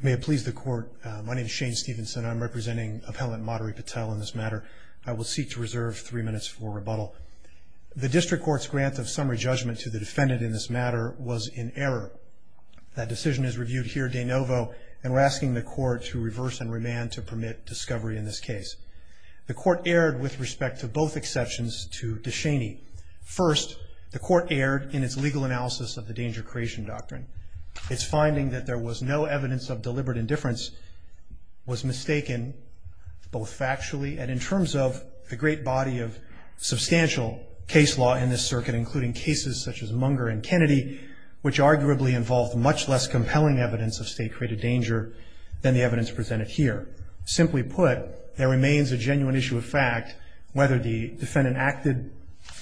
May it please the Court, my name is Shane Stevenson and I'm representing Appellant Madhuri Patel in this matter. I will seek to reserve three minutes for rebuttal. The District Court's grant of summary judgment to the defendant in this matter was in error. That decision is reviewed here de novo and we're asking the Court to reverse and remand to permit discovery in this case. The Court erred with respect to both exceptions to DeShaney. First, the Court erred in its legal analysis of the Danger Creation Doctrine. Its finding that there was no evidence of deliberate indifference was mistaken, both factually and in terms of the great body of substantial case law in this circuit, including cases such as Munger and Kennedy, which arguably involved much less compelling evidence of state-created danger than the evidence presented here. Simply put, there remains a genuine issue of fact, whether the defendant acted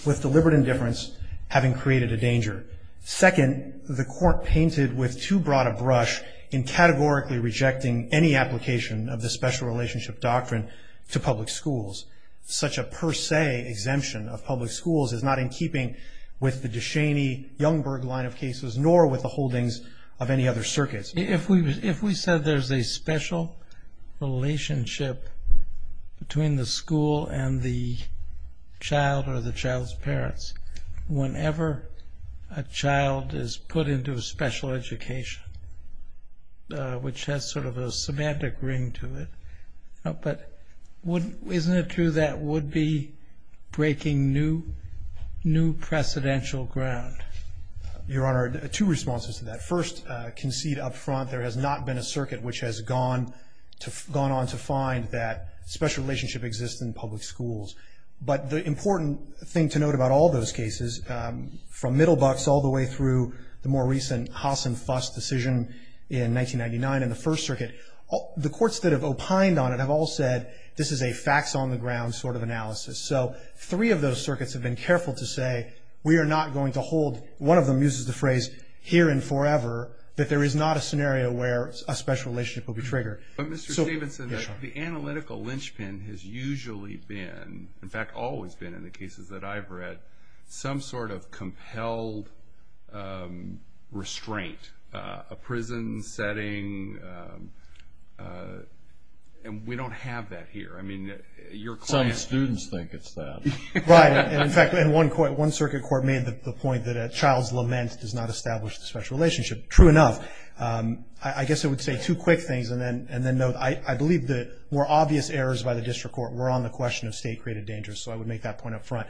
with deliberate indifference, having created a danger. Second, the Court painted with too broad a brush in categorically rejecting any application of the Special Relationship Doctrine to public schools. Such a per se exemption of public schools is not in keeping with the DeShaney-Youngberg line of cases, nor with the holdings of any other circuits. If we said there's a special relationship between the school and the child or the child's parents, whenever a child is put into a special education, which has sort of a semantic ring to it, but isn't it true that would be breaking new precedential ground? Your Honor, two responses to that. First, concede up front there has not been a circuit which has gone on to find that special relationship exists in public schools. But the important thing to note about all those cases, from Middlebuck's all the way through the more recent Haas and Fuss decision in 1999 in the First Circuit, the courts that have opined on it have all said this is a facts on the ground sort of analysis. So three of those circuits have been careful to say we are not going to hold, one of them uses the phrase here and forever, that there is not a scenario where a special relationship will be triggered. But Mr. Stevenson, the analytical linchpin has usually been, in fact always been in the cases that I've read, some sort of compelled restraint, a prison setting, and we don't have that here. Some students think it's that. Right. In fact, one circuit court made the point that a child's lament does not establish the special relationship. True enough, I guess I would say two quick things and then note I believe the more obvious errors by the district court were on the question of state-created dangers, so I would make that point up front.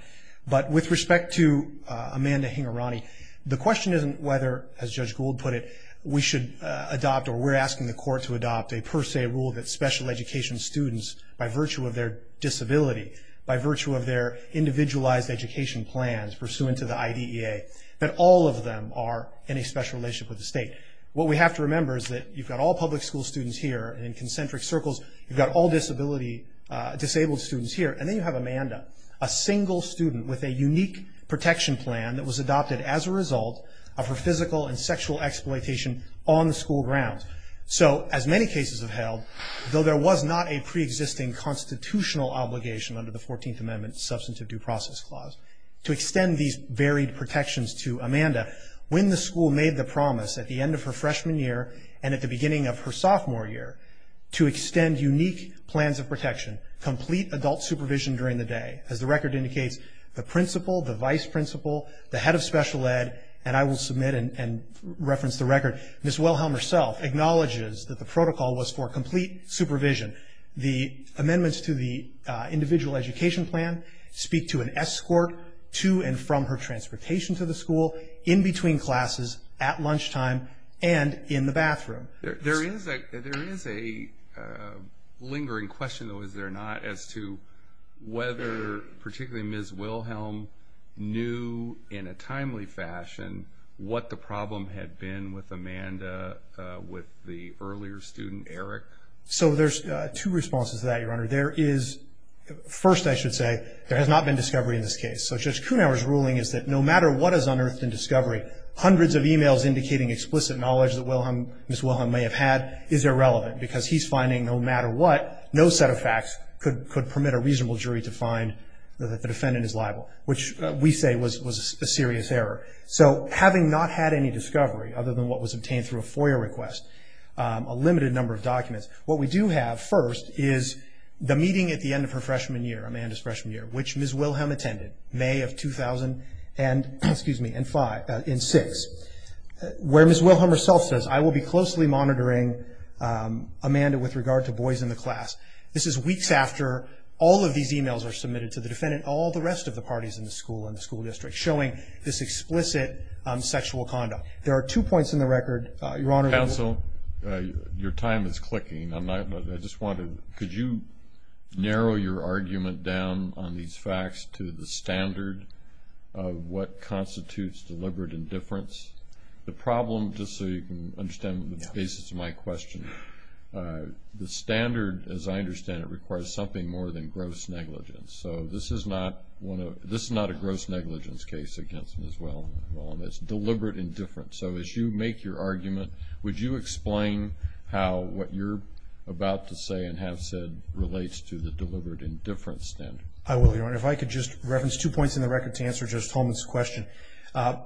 But with respect to Amanda Hingorani, the question isn't whether, as Judge Gould put it, we should adopt or we're asking the court to adopt a per se rule that special education students, by virtue of their disability, by virtue of their individualized education plans pursuant to the IDEA, that all of them are in a special relationship with the state. What we have to remember is that you've got all public school students here and in concentric circles, you've got all disabled students here, and then you have Amanda, a single student with a unique protection plan that was adopted as a result of her physical and sexual exploitation on the school grounds. So as many cases have held, though there was not a preexisting constitutional obligation under the 14th Amendment Substantive Due Process Clause to extend these varied protections to Amanda. When the school made the promise at the end of her freshman year and at the beginning of her sophomore year to extend unique plans of protection, complete adult supervision during the day, as the record indicates, the principal, the vice principal, the head of special ed, and I will submit and reference the record, Ms. Wilhelm herself acknowledges that the protocol was for complete supervision. The amendments to the individual education plan speak to an escort to and from her transportation to the school, in between classes, at lunchtime, and in the bathroom. There is a lingering question, though, is there not, as to whether particularly Ms. Wilhelm knew, in a timely fashion, what the problem had been with Amanda, with the earlier student, Eric? So there's two responses to that, Your Honor. There is, first I should say, there has not been discovery in this case. So Judge Kuhnhauer's ruling is that no matter what is unearthed in discovery, hundreds of e-mails indicating explicit knowledge that Ms. Wilhelm may have had is irrelevant because he's finding no matter what, no set of facts could permit a reasonable jury to find that the defendant is liable, which we say was a serious error. So having not had any discovery, other than what was obtained through a FOIA request, a limited number of documents, what we do have, first, is the meeting at the end of her freshman year, Amanda's freshman year, which Ms. Wilhelm attended, May of 2000 and six, where Ms. Wilhelm herself says, I will be closely monitoring Amanda with regard to boys in the class. This is weeks after all of these e-mails are submitted to the defendant, all the rest of the parties in the school and the school district, showing this explicit sexual conduct. There are two points in the record, Your Honor. Counsel, your time is clicking. I just wanted to, could you narrow your argument down on these facts to the standard of what constitutes deliberate indifference? The problem, just so you can understand the basis of my question, the standard, as I understand it, requires something more than gross negligence. So this is not a gross negligence case against Ms. Wilhelm. It's deliberate indifference. So as you make your argument, would you explain how what you're about to say and have said relates to the deliberate indifference standard? I will, Your Honor. If I could just reference two points in the record to answer Judge Tolman's question. ER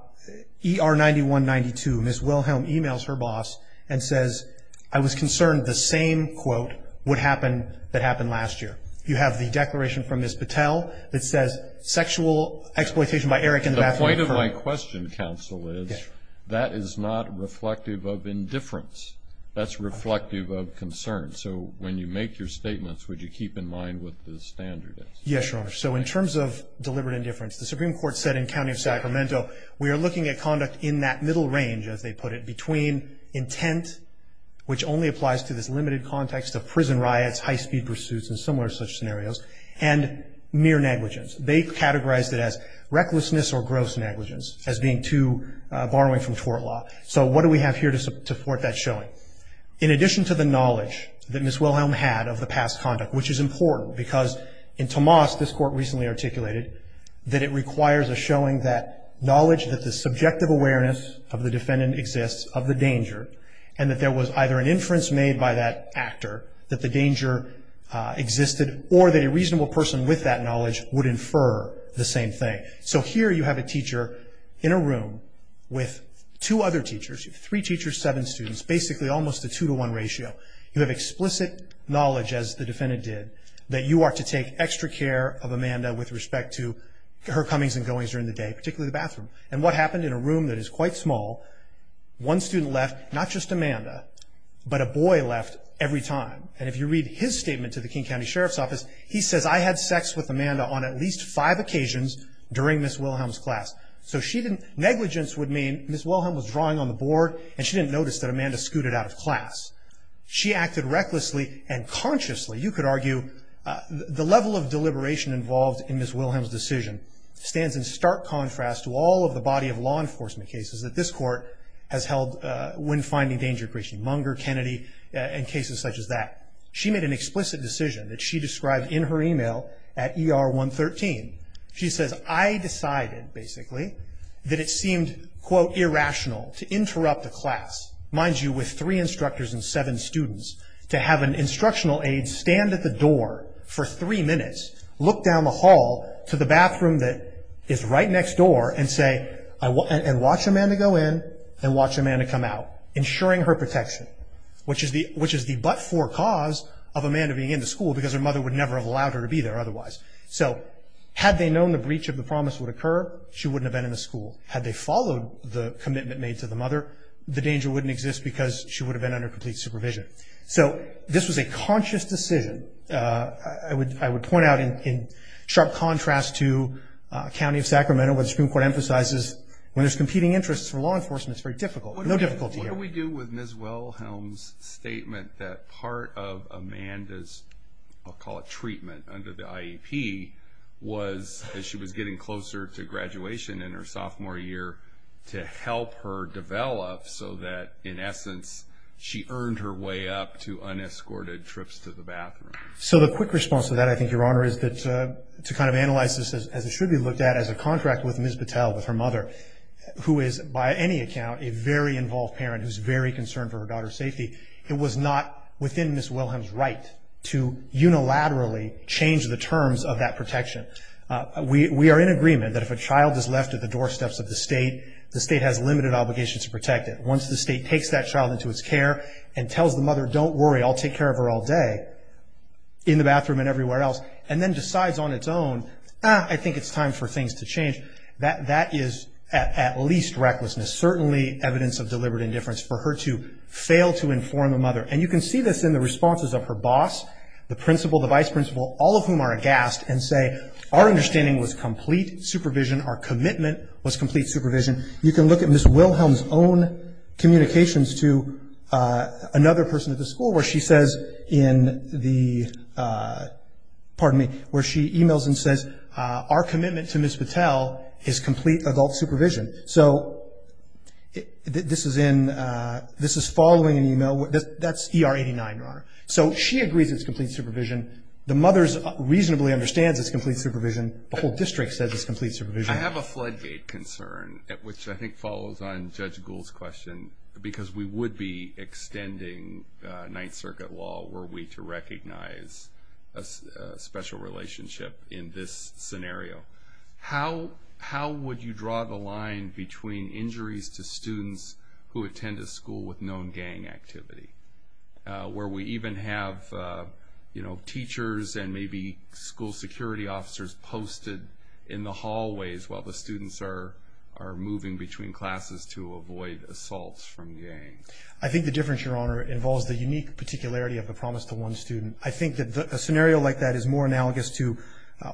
9192, Ms. Wilhelm e-mails her boss and says, I was concerned the same, quote, would happen that happened last year. You have the declaration from Ms. Patel that says sexual exploitation by Eric The point of my question, Counsel, is that is not reflective of indifference. That's reflective of concern. So when you make your statements, would you keep in mind what the standard is? Yes, Your Honor. So in terms of deliberate indifference, the Supreme Court said in County of Sacramento, we are looking at conduct in that middle range, as they put it, between intent, which only applies to this limited context of prison riots, high-speed pursuits and similar such scenarios, and mere negligence. They categorized it as recklessness or gross negligence as being too far away from tort law. So what do we have here to support that showing? In addition to the knowledge that Ms. Wilhelm had of the past conduct, which is important because in Tomas, this Court recently articulated that it requires a showing that knowledge that the subjective awareness of the defendant exists of the danger, and that there was either an inference made by that actor that the danger existed or that a reasonable person with that knowledge would infer the same thing. So here you have a teacher in a room with two other teachers, three teachers, seven students, basically almost a two-to-one ratio. You have explicit knowledge, as the defendant did, that you are to take extra care of Amanda with respect to her comings and goings during the day, particularly the bathroom. And what happened in a room that is quite small, one student left, not just Amanda, but a boy left every time. And if you read his statement to the King County Sheriff's Office, he says, I had sex with Amanda on at least five occasions during Ms. Wilhelm's class. So negligence would mean Ms. Wilhelm was drawing on the board, and she didn't notice that Amanda scooted out of class. She acted recklessly and consciously. You could argue the level of deliberation involved in Ms. Wilhelm's decision stands in stark contrast to all of the body of law enforcement cases that this She made an explicit decision that she described in her email at ER 113. She says, I decided, basically, that it seemed, quote, irrational to interrupt a class, mind you, with three instructors and seven students, to have an instructional aide stand at the door for three minutes, look down the hall to the bathroom that is right next door, and say, and watch Amanda go in and watch Amanda come out, ensuring her protection, which is the but-for cause of Amanda being in the school, because her mother would never have allowed her to be there otherwise. So had they known the breach of the promise would occur, she wouldn't have been in the school. Had they followed the commitment made to the mother, the danger wouldn't exist because she would have been under complete supervision. So this was a conscious decision, I would point out, in sharp contrast to a county of Sacramento where the Supreme Court emphasizes when there's competing interests for law enforcement, it's very difficult. No difficulty here. I agree with Ms. Wellhelm's statement that part of Amanda's, I'll call it treatment, under the IEP was that she was getting closer to graduation in her sophomore year to help her develop so that, in essence, she earned her way up to unescorted trips to the bathroom. So the quick response to that, I think, Your Honor, is to kind of analyze this, as it should be looked at, as a contract with Ms. Battelle, with her mother, who is, by any account, a very involved parent who's very concerned for her daughter's safety. It was not within Ms. Wellhelm's right to unilaterally change the terms of that protection. We are in agreement that if a child is left at the doorsteps of the state, the state has limited obligations to protect it. Once the state takes that child into its care and tells the mother, don't worry, I'll take care of her all day, in the bathroom and everywhere else, and then decides on its own, ah, I think it's time for things to change, that is at least recklessness, certainly evidence of deliberate indifference for her to fail to inform the mother. And you can see this in the responses of her boss, the principal, the vice principal, all of whom are aghast and say, our understanding was complete supervision, our commitment was complete supervision. You can look at Ms. Wellhelm's own communications to another person at the school, where she says in the, pardon me, where she emails and says, our commitment to Ms. Patel is complete adult supervision. So this is in, this is following an email, that's ER 89, Your Honor. So she agrees it's complete supervision. The mother reasonably understands it's complete supervision. The whole district says it's complete supervision. I have a floodgate concern, which I think follows on Judge Gould's question, because we would be extending Ninth Circuit law were we to recognize a special relationship in this scenario. How would you draw the line between injuries to students who attend a school with known gang activity, where we even have, you know, teachers and maybe school security officers posted in the hallways while the students are moving between classes to avoid assaults from gangs? I think the difference, Your Honor, involves the unique particularity of the promise to one student. I think that a scenario like that is more analogous to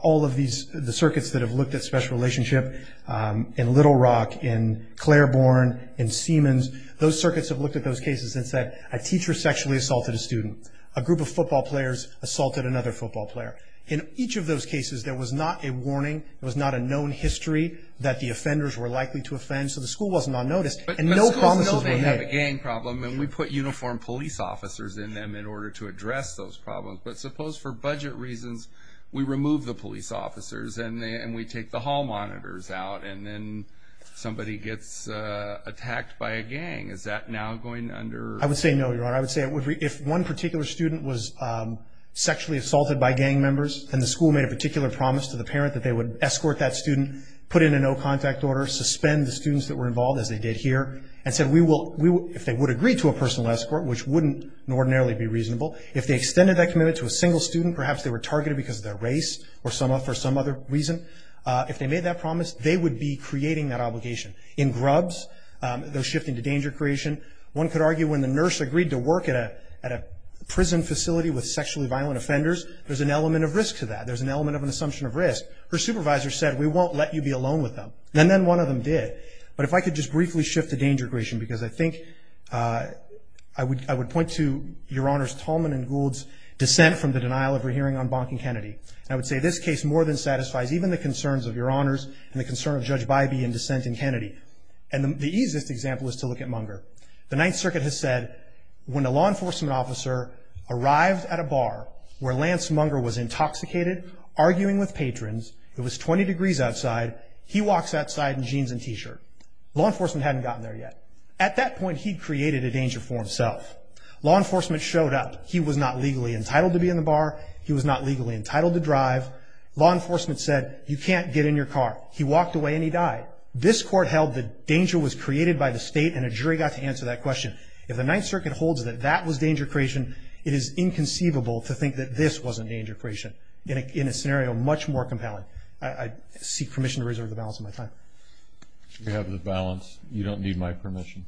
all of these, the circuits that have looked at special relationship in Little Rock, in Claiborne, in Siemens. Those circuits have looked at those cases and said, a teacher sexually assaulted a student. A group of football players assaulted another football player. In each of those cases, there was not a warning, there was not a known history that the offenders were likely to offend, so the school was not noticed, and no promises were made. We have a gang problem, and we put uniformed police officers in them in order to address those problems, but suppose for budget reasons, we remove the police officers, and we take the hall monitors out, and then somebody gets attacked by a gang. Is that now going under? I would say no, Your Honor. I would say if one particular student was sexually assaulted by gang members, then the school made a particular promise to the parent that they would escort that student, put in a no-contact order, suspend the students that were involved, as they did here, and said if they would agree to a personal escort, which wouldn't ordinarily be reasonable, if they extended that commitment to a single student, perhaps they were targeted because of their race, or for some other reason, if they made that promise, they would be creating that obligation. In grubs, those shifting to danger creation, one could argue when the nurse agreed to work at a prison facility with sexually violent offenders, there's an element of risk to that. There's an element of an assumption of risk. Her supervisor said, we won't let you be alone with them, and then one of them did. But if I could just briefly shift to danger creation, because I think I would point to Your Honors Tolman and Gould's dissent from the denial of a hearing on Bonk and Kennedy. I would say this case more than satisfies even the concerns of Your Honors and the concern of Judge Bybee in dissent in Kennedy. And the easiest example is to look at Munger. The Ninth Circuit has said when a law enforcement officer arrived at a bar where Lance Munger was intoxicated, arguing with patrons, it was 20 degrees outside, he walks outside in jeans and T-shirt. Law enforcement hadn't gotten there yet. At that point, he'd created a danger for himself. Law enforcement showed up. He was not legally entitled to be in the bar. He was not legally entitled to drive. Law enforcement said, you can't get in your car. He walked away, and he died. This court held that danger was created by the state, and a jury got to answer that question. If the Ninth Circuit holds that that was danger creation, it is inconceivable to think that this was a danger creation in a scenario much more compelling. I seek permission to reserve the balance of my time. You have the balance. You don't need my permission.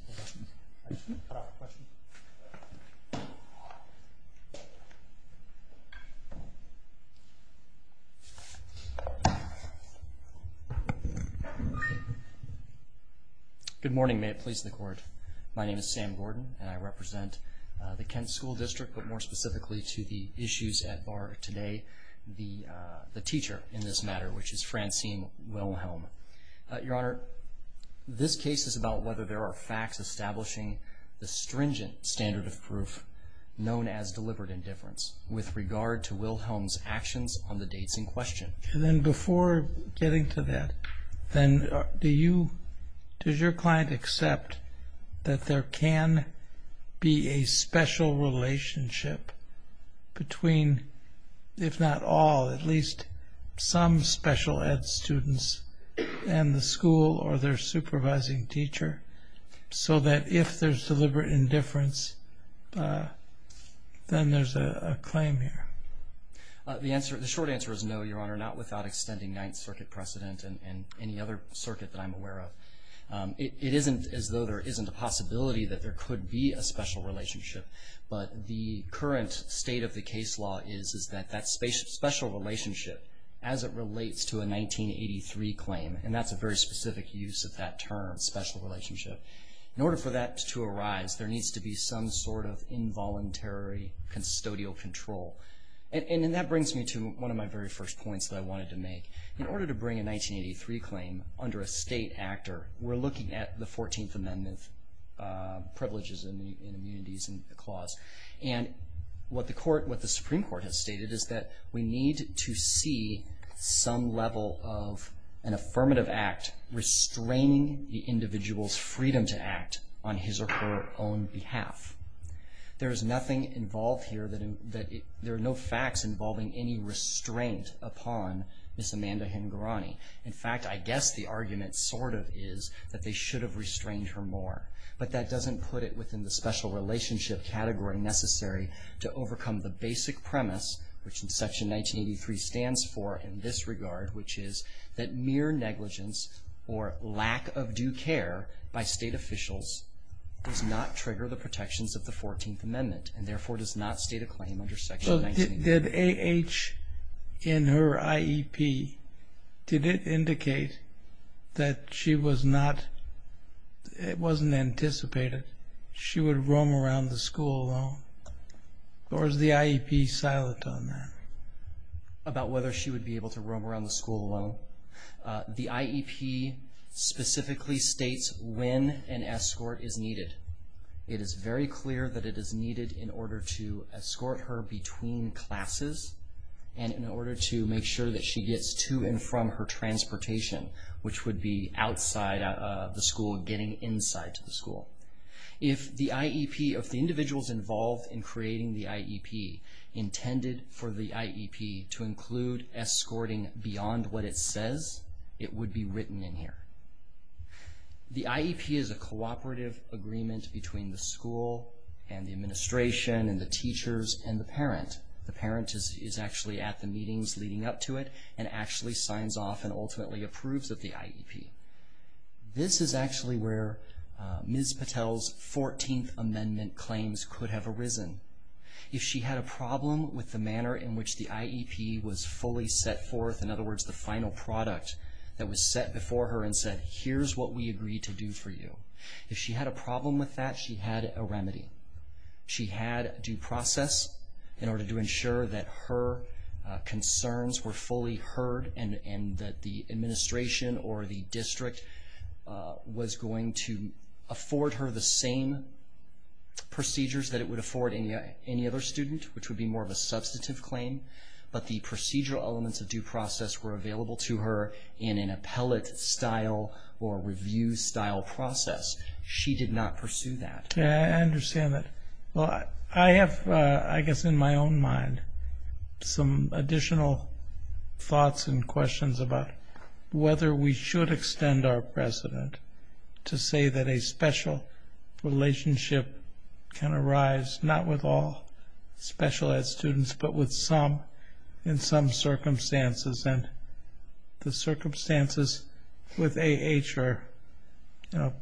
Good morning. May it please the Court. My name is Sam Gordon, and I represent the Kent School District, but more specifically to the issues at bar today, the teacher in this matter, which is Francine Wilhelm. Your Honor, this case is about whether there are facts establishing the stringent standard of proof known as deliberate indifference with regard to Wilhelm's actions on the dates in question. Then before getting to that, does your client accept that there can be a special relationship between, if not all, at least some special ed students and the school or their supervising teacher, so that if there's deliberate indifference, then there's a claim here? The short answer is no, Your Honor, not without extending Ninth Circuit precedent and any other circuit that I'm aware of. It isn't as though there isn't a possibility that there could be a special relationship, but the current state of the case law is that that special relationship, as it relates to a 1983 claim, and that's a very specific use of that term, special relationship, in order for that to arise, there needs to be some sort of involuntary custodial control. And that brings me to one of my very first points that I wanted to make. In order to bring a 1983 claim under a state actor, we're looking at the 14th Amendment privileges and immunities clause. And what the Supreme Court has stated is that we need to see some level of an affirmative act restraining the individual's freedom to act on his or her own behalf. There is nothing involved here that there are no facts involving any restraint upon Ms. Amanda Hingorani. In fact, I guess the argument sort of is that they should have restrained her more. But that doesn't put it within the special relationship category necessary to overcome the basic premise, which in Section 1983 stands for in this regard, which is that mere negligence or lack of due care by state officials does not trigger the protections of the 14th Amendment and therefore does not state a claim under Section 1983. Did A.H. in her IEP, did it indicate that she was not, it wasn't anticipated she would roam around the school alone? Or is the IEP silent on that? About whether she would be able to roam around the school alone? The IEP specifically states when an escort is needed. It is very clear that it is needed in order to escort her between classes and in order to make sure that she gets to and from her transportation, which would be outside of the school and getting inside to the school. If the IEP, if the individuals involved in creating the IEP intended for the IEP to include escorting beyond what it says, it would be written in here. The IEP is a cooperative agreement between the school and the administration and the teachers and the parent. The parent is actually at the meetings leading up to it and actually signs off and ultimately approves of the IEP. This is actually where Ms. Patel's 14th Amendment claims could have arisen. If she had a problem with the manner in which the IEP was fully set forth, in other words, the final product that was set before her and said, here's what we agree to do for you. If she had a problem with that, she had a remedy. She had due process in order to ensure that her concerns were fully heard and that the administration or the district was going to afford her the same procedures that it would afford any other student, which would be more of a substantive claim, but the procedural elements of due process were available to her in an appellate style or review style process. She did not pursue that. I understand that. I have, I guess in my own mind, some additional thoughts and questions about whether we should extend our precedent to say that a special relationship can arise, not with all special ed students, but with some in some circumstances. And the circumstances with A.H. are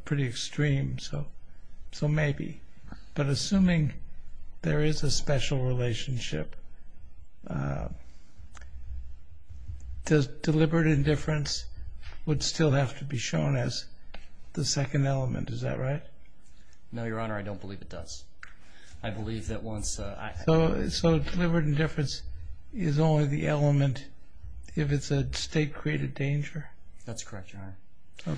pretty extreme, so maybe. But assuming there is a special relationship, does deliberate indifference would still have to be shown as the second element, is that right? No, Your Honor, I don't believe it does. I believe that once... So deliberate indifference is only the element if it's a state-created danger? That's correct, Your Honor.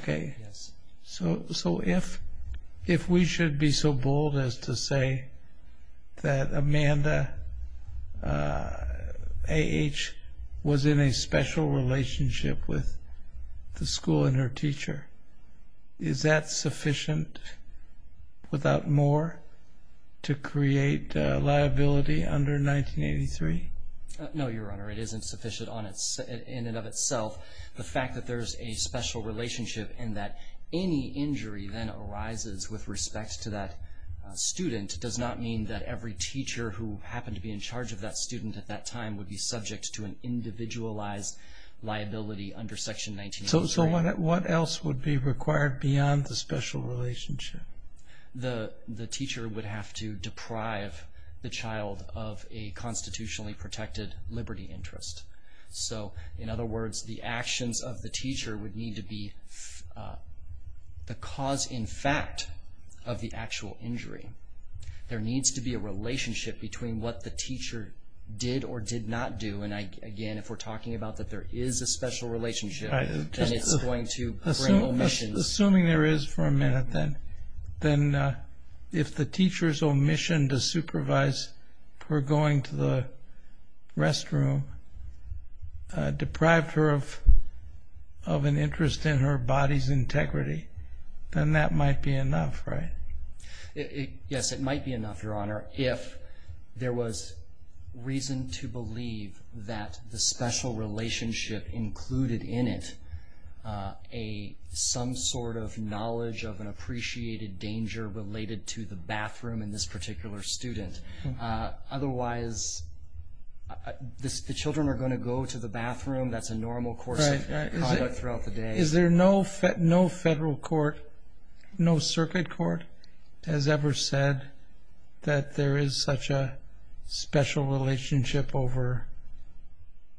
Okay. Yes. So if we should be so bold as to say that Amanda A.H. was in a special relationship with the school and her teacher, is that sufficient without more to create liability under 1983? No, Your Honor, it isn't sufficient in and of itself. The fact that there's a special relationship and that any injury then arises with respect to that student does not mean that every teacher who happened to be in charge of that student at that time would be subject to an individualized liability under Section 1983. So what else would be required beyond the special relationship? The teacher would have to deprive the child of a constitutionally protected liberty interest. So, in other words, the actions of the teacher would need to be the cause in fact of the actual injury. There needs to be a relationship between what the teacher did or did not do. And, again, if we're talking about that there is a special relationship, then it's going to bring omissions. Assuming there is for a minute, then if the teacher's omission to supervise her going to the restroom deprived her of an interest in her body's integrity, then that might be enough, right? Yes, it might be enough, Your Honor, if there was reason to believe that the special relationship included in it some sort of knowledge of an appreciated danger related to the bathroom in this particular student. Otherwise, the children are going to go to the bathroom. That's a normal course of conduct throughout the day. Is there no federal court, no circuit court has ever said that there is such a special relationship over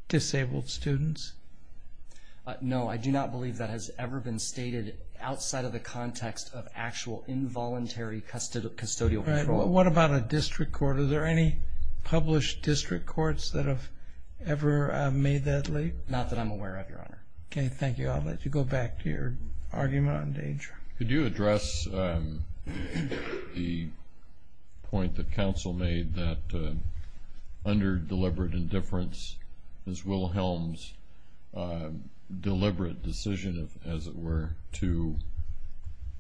disabled students? No, I do not believe that has ever been stated outside of the context of actual involuntary custodial control. What about a district court? Are there any published district courts that have ever made that leap? Okay, thank you. I'll let you go back to your argument on danger. Could you address the point that counsel made that under deliberate indifference, Ms. Wilhelm's deliberate decision, as it were, to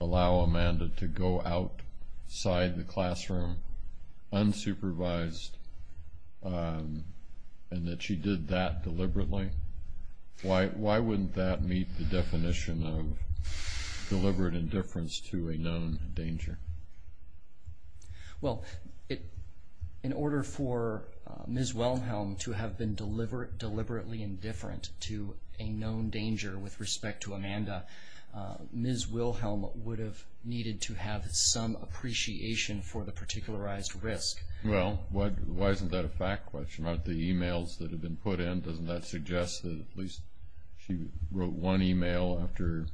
allow Amanda to go outside the classroom unsupervised and that she did that deliberately? Why wouldn't that meet the definition of deliberate indifference to a known danger? Well, in order for Ms. Wilhelm to have been deliberately indifferent to a known danger with respect to Amanda, Ms. Wilhelm would have needed to have some appreciation for the particularized risk. Well, why isn't that a fact question? Aren't the e-mails that have been put in, doesn't that suggest that at least she wrote one e-mail after,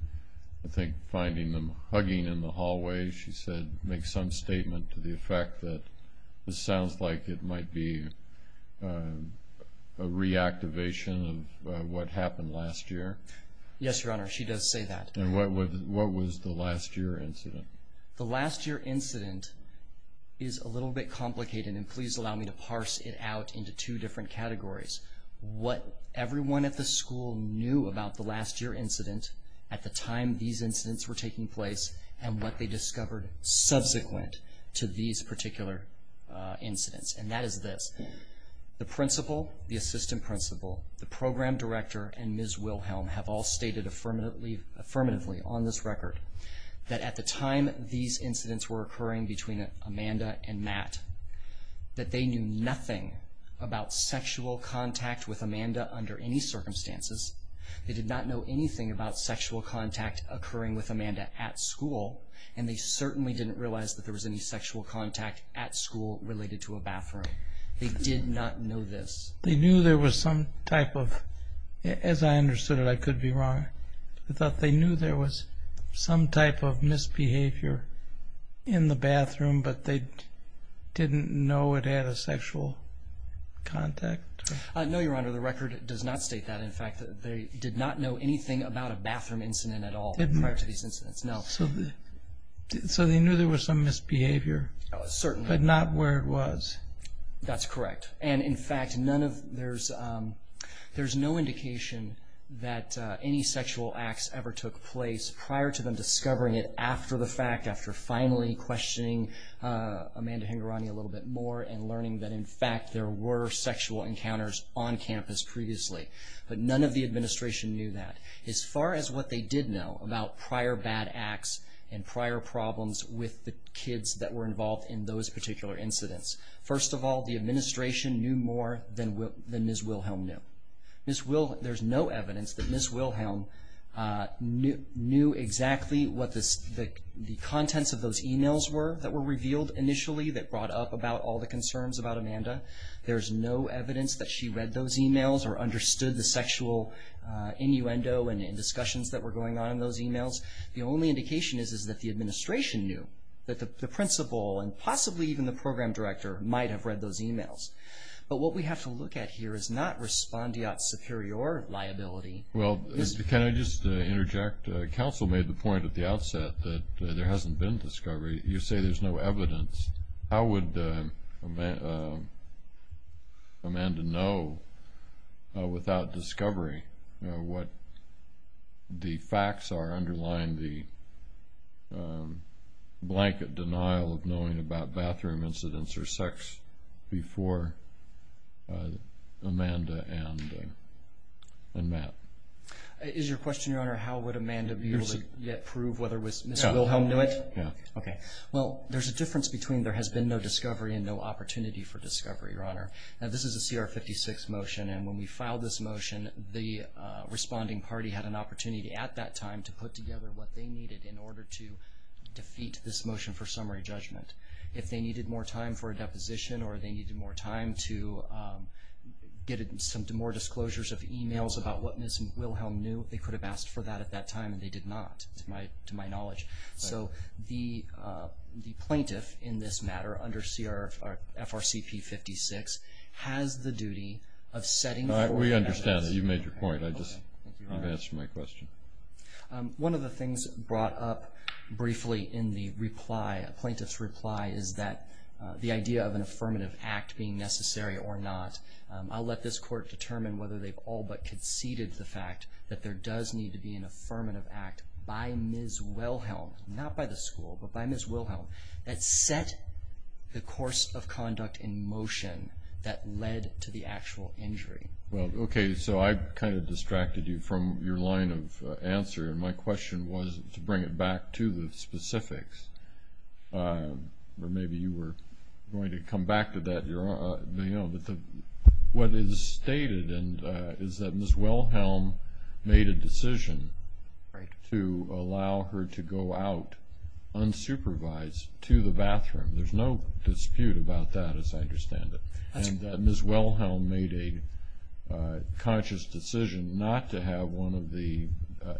I think, finding them hugging in the hallway? She said, make some statement to the effect that this sounds like it might be a reactivation of what happened last year. Yes, Your Honor, she does say that. And what was the last year incident? The last year incident is a little bit complicated, and please allow me to parse it out into two different categories. What everyone at the school knew about the last year incident at the time these incidents were taking place and what they discovered subsequent to these particular incidents, and that is this. The principal, the assistant principal, the program director, and Ms. Wilhelm have all stated affirmatively on this record that at the time these incidents were occurring between Amanda and Matt, that they knew nothing about sexual contact with Amanda under any circumstances. They did not know anything about sexual contact occurring with Amanda at school, and they certainly didn't realize that there was any sexual contact at school related to a bathroom. They did not know this. They knew there was some type of, as I understood it, I could be wrong, but they knew there was some type of misbehavior in the bathroom, but they didn't know it had a sexual contact. No, Your Honor, the record does not state that. In fact, they did not know anything about a bathroom incident at all prior to these incidents. So they knew there was some misbehavior, but not where it was. That's correct. And, in fact, there's no indication that any sexual acts ever took place prior to them discovering it after the fact, after finally questioning Amanda Hingorani a little bit more and learning that, in fact, there were sexual encounters on campus previously. But none of the administration knew that. As far as what they did know about prior bad acts and prior problems with the kids that were involved in those particular incidents, first of all, the administration knew more than Ms. Wilhelm knew. There's no evidence that Ms. Wilhelm knew exactly what the contents of those e-mails were that were revealed initially that brought up about all the concerns about Amanda. There's no evidence that she read those e-mails or understood the sexual innuendo and discussions that were going on in those e-mails. The only indication is that the administration knew, that the principal and possibly even the program director might have read those e-mails. But what we have to look at here is not respondeat superior liability. Well, can I just interject? Counsel made the point at the outset that there hasn't been discovery. You say there's no evidence. How would Amanda know without discovery what the facts are underlying the blanket denial of knowing about bathroom incidents or sex before Amanda and Matt? Is your question, Your Honor, how would Amanda be able to yet prove whether Ms. Wilhelm knew it? Yeah. Okay. Well, there's a difference between there has been no discovery and no opportunity for discovery, Your Honor. Now, this is a CR 56 motion, and when we filed this motion, the responding party had an opportunity at that time to put together what they needed in order to defeat this motion for summary judgment. If they needed more time for a deposition or they needed more time to get some more disclosures of e-mails about what Ms. Wilhelm knew, they could have asked for that at that time, and they did not, to my knowledge. So the plaintiff in this matter under FRCP 56 has the duty of setting forth evidence. We understand that. You made your point. You've answered my question. One of the things brought up briefly in the reply, a plaintiff's reply, is that the idea of an affirmative act being necessary or not. I'll let this court determine whether they've all but conceded the fact that there does need to be an affirmative act by Ms. Wilhelm, not by the school, but by Ms. Wilhelm, that set the course of conduct in motion that led to the actual injury. Well, okay, so I kind of distracted you from your line of answer, and my question was to bring it back to the specifics. Or maybe you were going to come back to that, Your Honor. What is stated is that Ms. Wilhelm made a decision to allow her to go out unsupervised to the bathroom. There's no dispute about that, as I understand it, and that Ms. Wilhelm made a conscious decision not to have one of the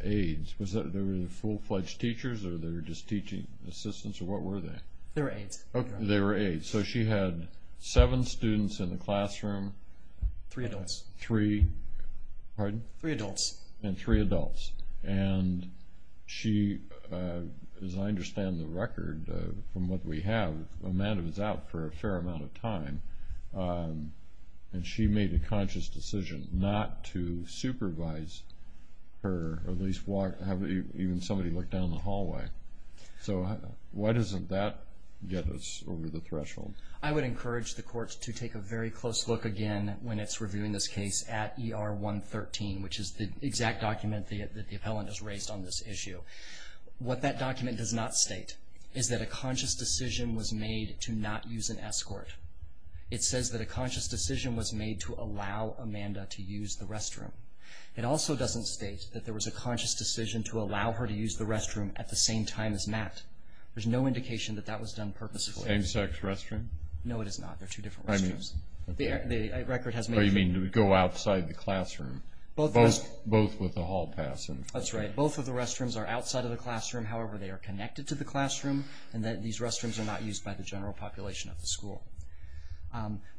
aides. Was it full-fledged teachers, or they were just teaching assistants, or what were they? They were aides. Okay, they were aides. So she had seven students in the classroom. Three adults. Three, pardon? Three adults. And three adults. And she, as I understand the record from what we have, Amanda was out for a fair amount of time, and she made a conscious decision not to supervise her, or at least have even somebody look down the hallway. So why doesn't that get us over the threshold? I would encourage the court to take a very close look again when it's reviewing this case at ER 113, which is the exact document that the appellant has raised on this issue. What that document does not state is that a conscious decision was made to not use an escort. It says that a conscious decision was made to allow Amanda to use the restroom. It also doesn't state that there was a conscious decision to allow her to use the restroom at the same time as Matt. There's no indication that that was done purposefully. Same-sex restroom? No, it is not. They're two different restrooms. I mean, go outside the classroom, both with the hall pass. That's right. Both of the restrooms are outside of the classroom. However, they are connected to the classroom, and these restrooms are not used by the general population of the school.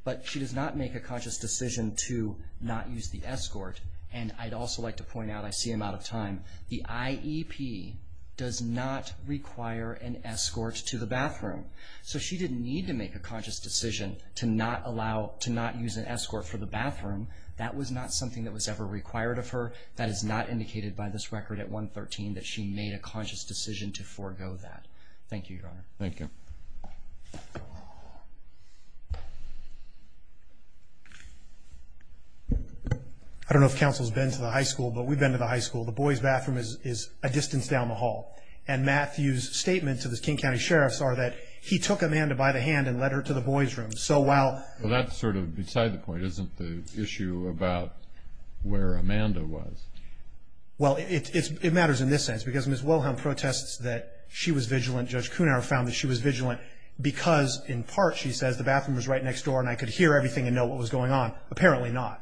But she does not make a conscious decision to not use the escort, and I'd also like to point out, I see I'm out of time, the IEP does not require an escort to the bathroom. So she didn't need to make a conscious decision to not use an escort for the bathroom. That was not something that was ever required of her. That is not indicated by this record at 113 that she made a conscious decision to forego that. Thank you, Your Honor. Thank you. I don't know if counsel's been to the high school, but we've been to the high school. The boys' bathroom is a distance down the hall, and Matthew's statement to the King County sheriffs are that he took Amanda by the hand and led her to the boys' room. So while that's sort of beside the point, isn't the issue about where Amanda was? Well, it matters in this sense, because Ms. Wilhelm protests that she was vigilant. Judge Kuhnauer found that she was vigilant because, in part, she says the bathroom was right next door and I could hear everything and know what was going on. Apparently not.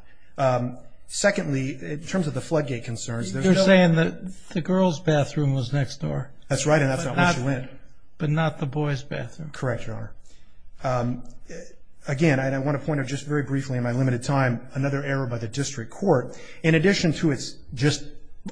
Secondly, in terms of the floodgate concerns, there's no ---- You're saying that the girls' bathroom was next door. That's right, and that's not where she went. But not the boys' bathroom. Correct, Your Honor. Again, and I want to point out just very briefly in my limited time, another error by the district court. In addition to its just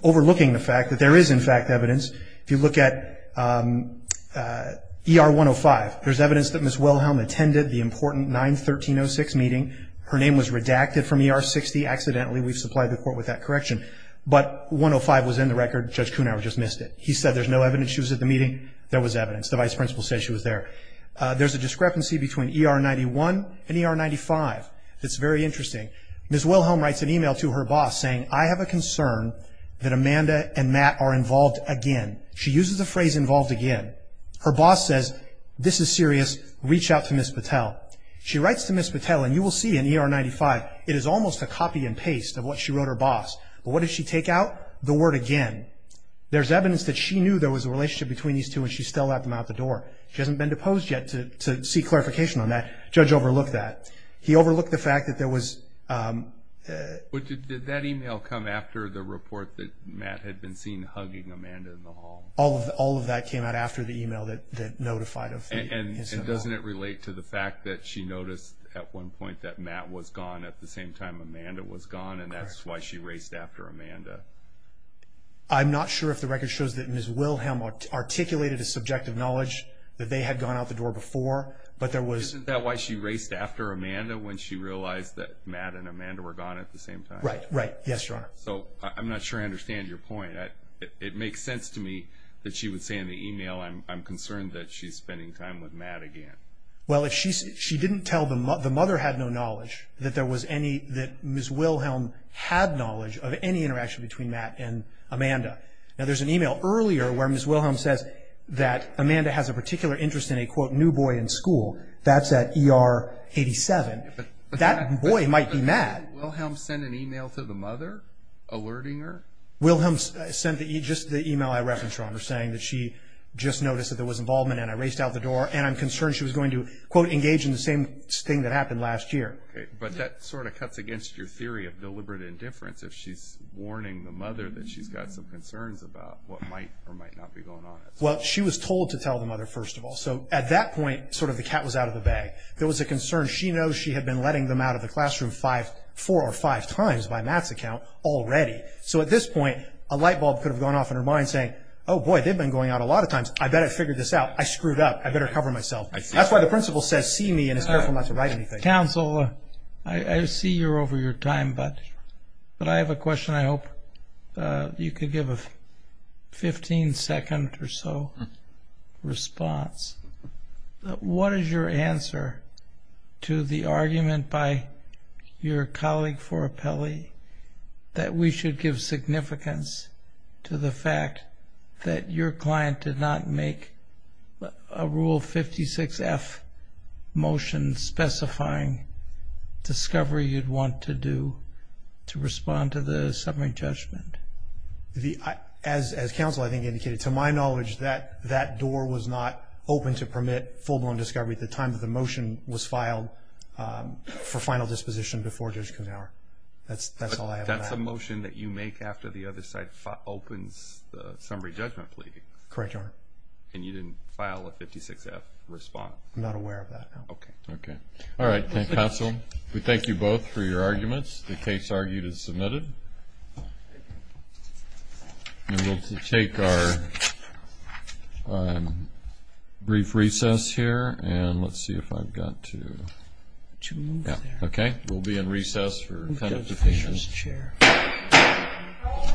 overlooking the fact that there is, in fact, evidence, if you look at ER 105, there's evidence that Ms. Wilhelm attended the important 9-1306 meeting. Her name was redacted from ER 60 accidentally. We've supplied the court with that correction. But 105 was in the record. Judge Kuhnauer just missed it. He said there's no evidence she was at the meeting. There was evidence. The vice principal said she was there. There's a discrepancy between ER 91 and ER 95 that's very interesting. Ms. Wilhelm writes an email to her boss saying, I have a concern that Amanda and Matt are involved again. She uses the phrase involved again. Her boss says, this is serious. Reach out to Ms. Patel. She writes to Ms. Patel, and you will see in ER 95, it is almost a copy and paste of what she wrote her boss. But what did she take out? The word again. There's evidence that she knew there was a relationship between these two, and she still let them out the door. She hasn't been deposed yet to seek clarification on that. Judge overlooked that. He overlooked the fact that there was. But did that email come after the report that Matt had been seen hugging Amanda in the hall? All of that came out after the email that notified of the incident. And doesn't it relate to the fact that she noticed at one point that Matt was gone at the same time Amanda was gone, and that's why she raced after Amanda? I'm not sure if the record shows that Ms. Wilhelm articulated a subjective knowledge that they had gone out the door before, but there was. Isn't that why she raced after Amanda when she realized that Matt and Amanda were gone at the same time? Right, right. Yes, Your Honor. So I'm not sure I understand your point. It makes sense to me that she would say in the email, I'm concerned that she's spending time with Matt again. Well, she didn't tell the mother had no knowledge that there was any, that Ms. Wilhelm had knowledge of any interaction between Matt and Amanda. Now, there's an email earlier where Ms. Wilhelm says that Amanda has a particular interest in a, quote, new boy in school. That's at ER 87. That boy might be Matt. Wilhelm sent an email to the mother alerting her? Wilhelm sent just the email I referenced, Your Honor, saying that she just noticed that there was involvement and I raced out the door, and I'm concerned she was going to, quote, engage in the same thing that happened last year. Okay, but that sort of cuts against your theory of deliberate indifference if she's warning the mother that she's got some concerns about what might or might not be going on. Well, she was told to tell the mother, first of all. So at that point, sort of the cat was out of the bag. There was a concern. She knows she had been letting them out of the classroom four or five times by Matt's account already. So at this point, a light bulb could have gone off in her mind saying, oh, boy, they've been going out a lot of times. I better figure this out. I screwed up. I better cover myself. That's why the principal says see me and is careful not to write anything. Counsel, I see you're over your time, but I have a question. I hope you could give a 15-second or so response. What is your answer to the argument by your colleague for appellee that we should give significance to the fact that your client did not make a Rule 56-F motion specifying discovery you'd want to do to respond to the summary judgment? As counsel I think indicated, to my knowledge, that that door was not open to permit full-blown discovery at the time that the motion was filed for final disposition before Judge Kuhnhauer. That's all I have on that. So that's a motion that you make after the other side opens the summary judgment plea? Correct, Your Honor. And you didn't file a 56-F response? I'm not aware of that now. Okay. All right. Counsel, we thank you both for your arguments. The case argued is submitted. And we'll take our brief recess here, and let's see if I've got to move there. Okay. We'll be in recess for kind of a few minutes. Thank you, Mr. Chair. All rise.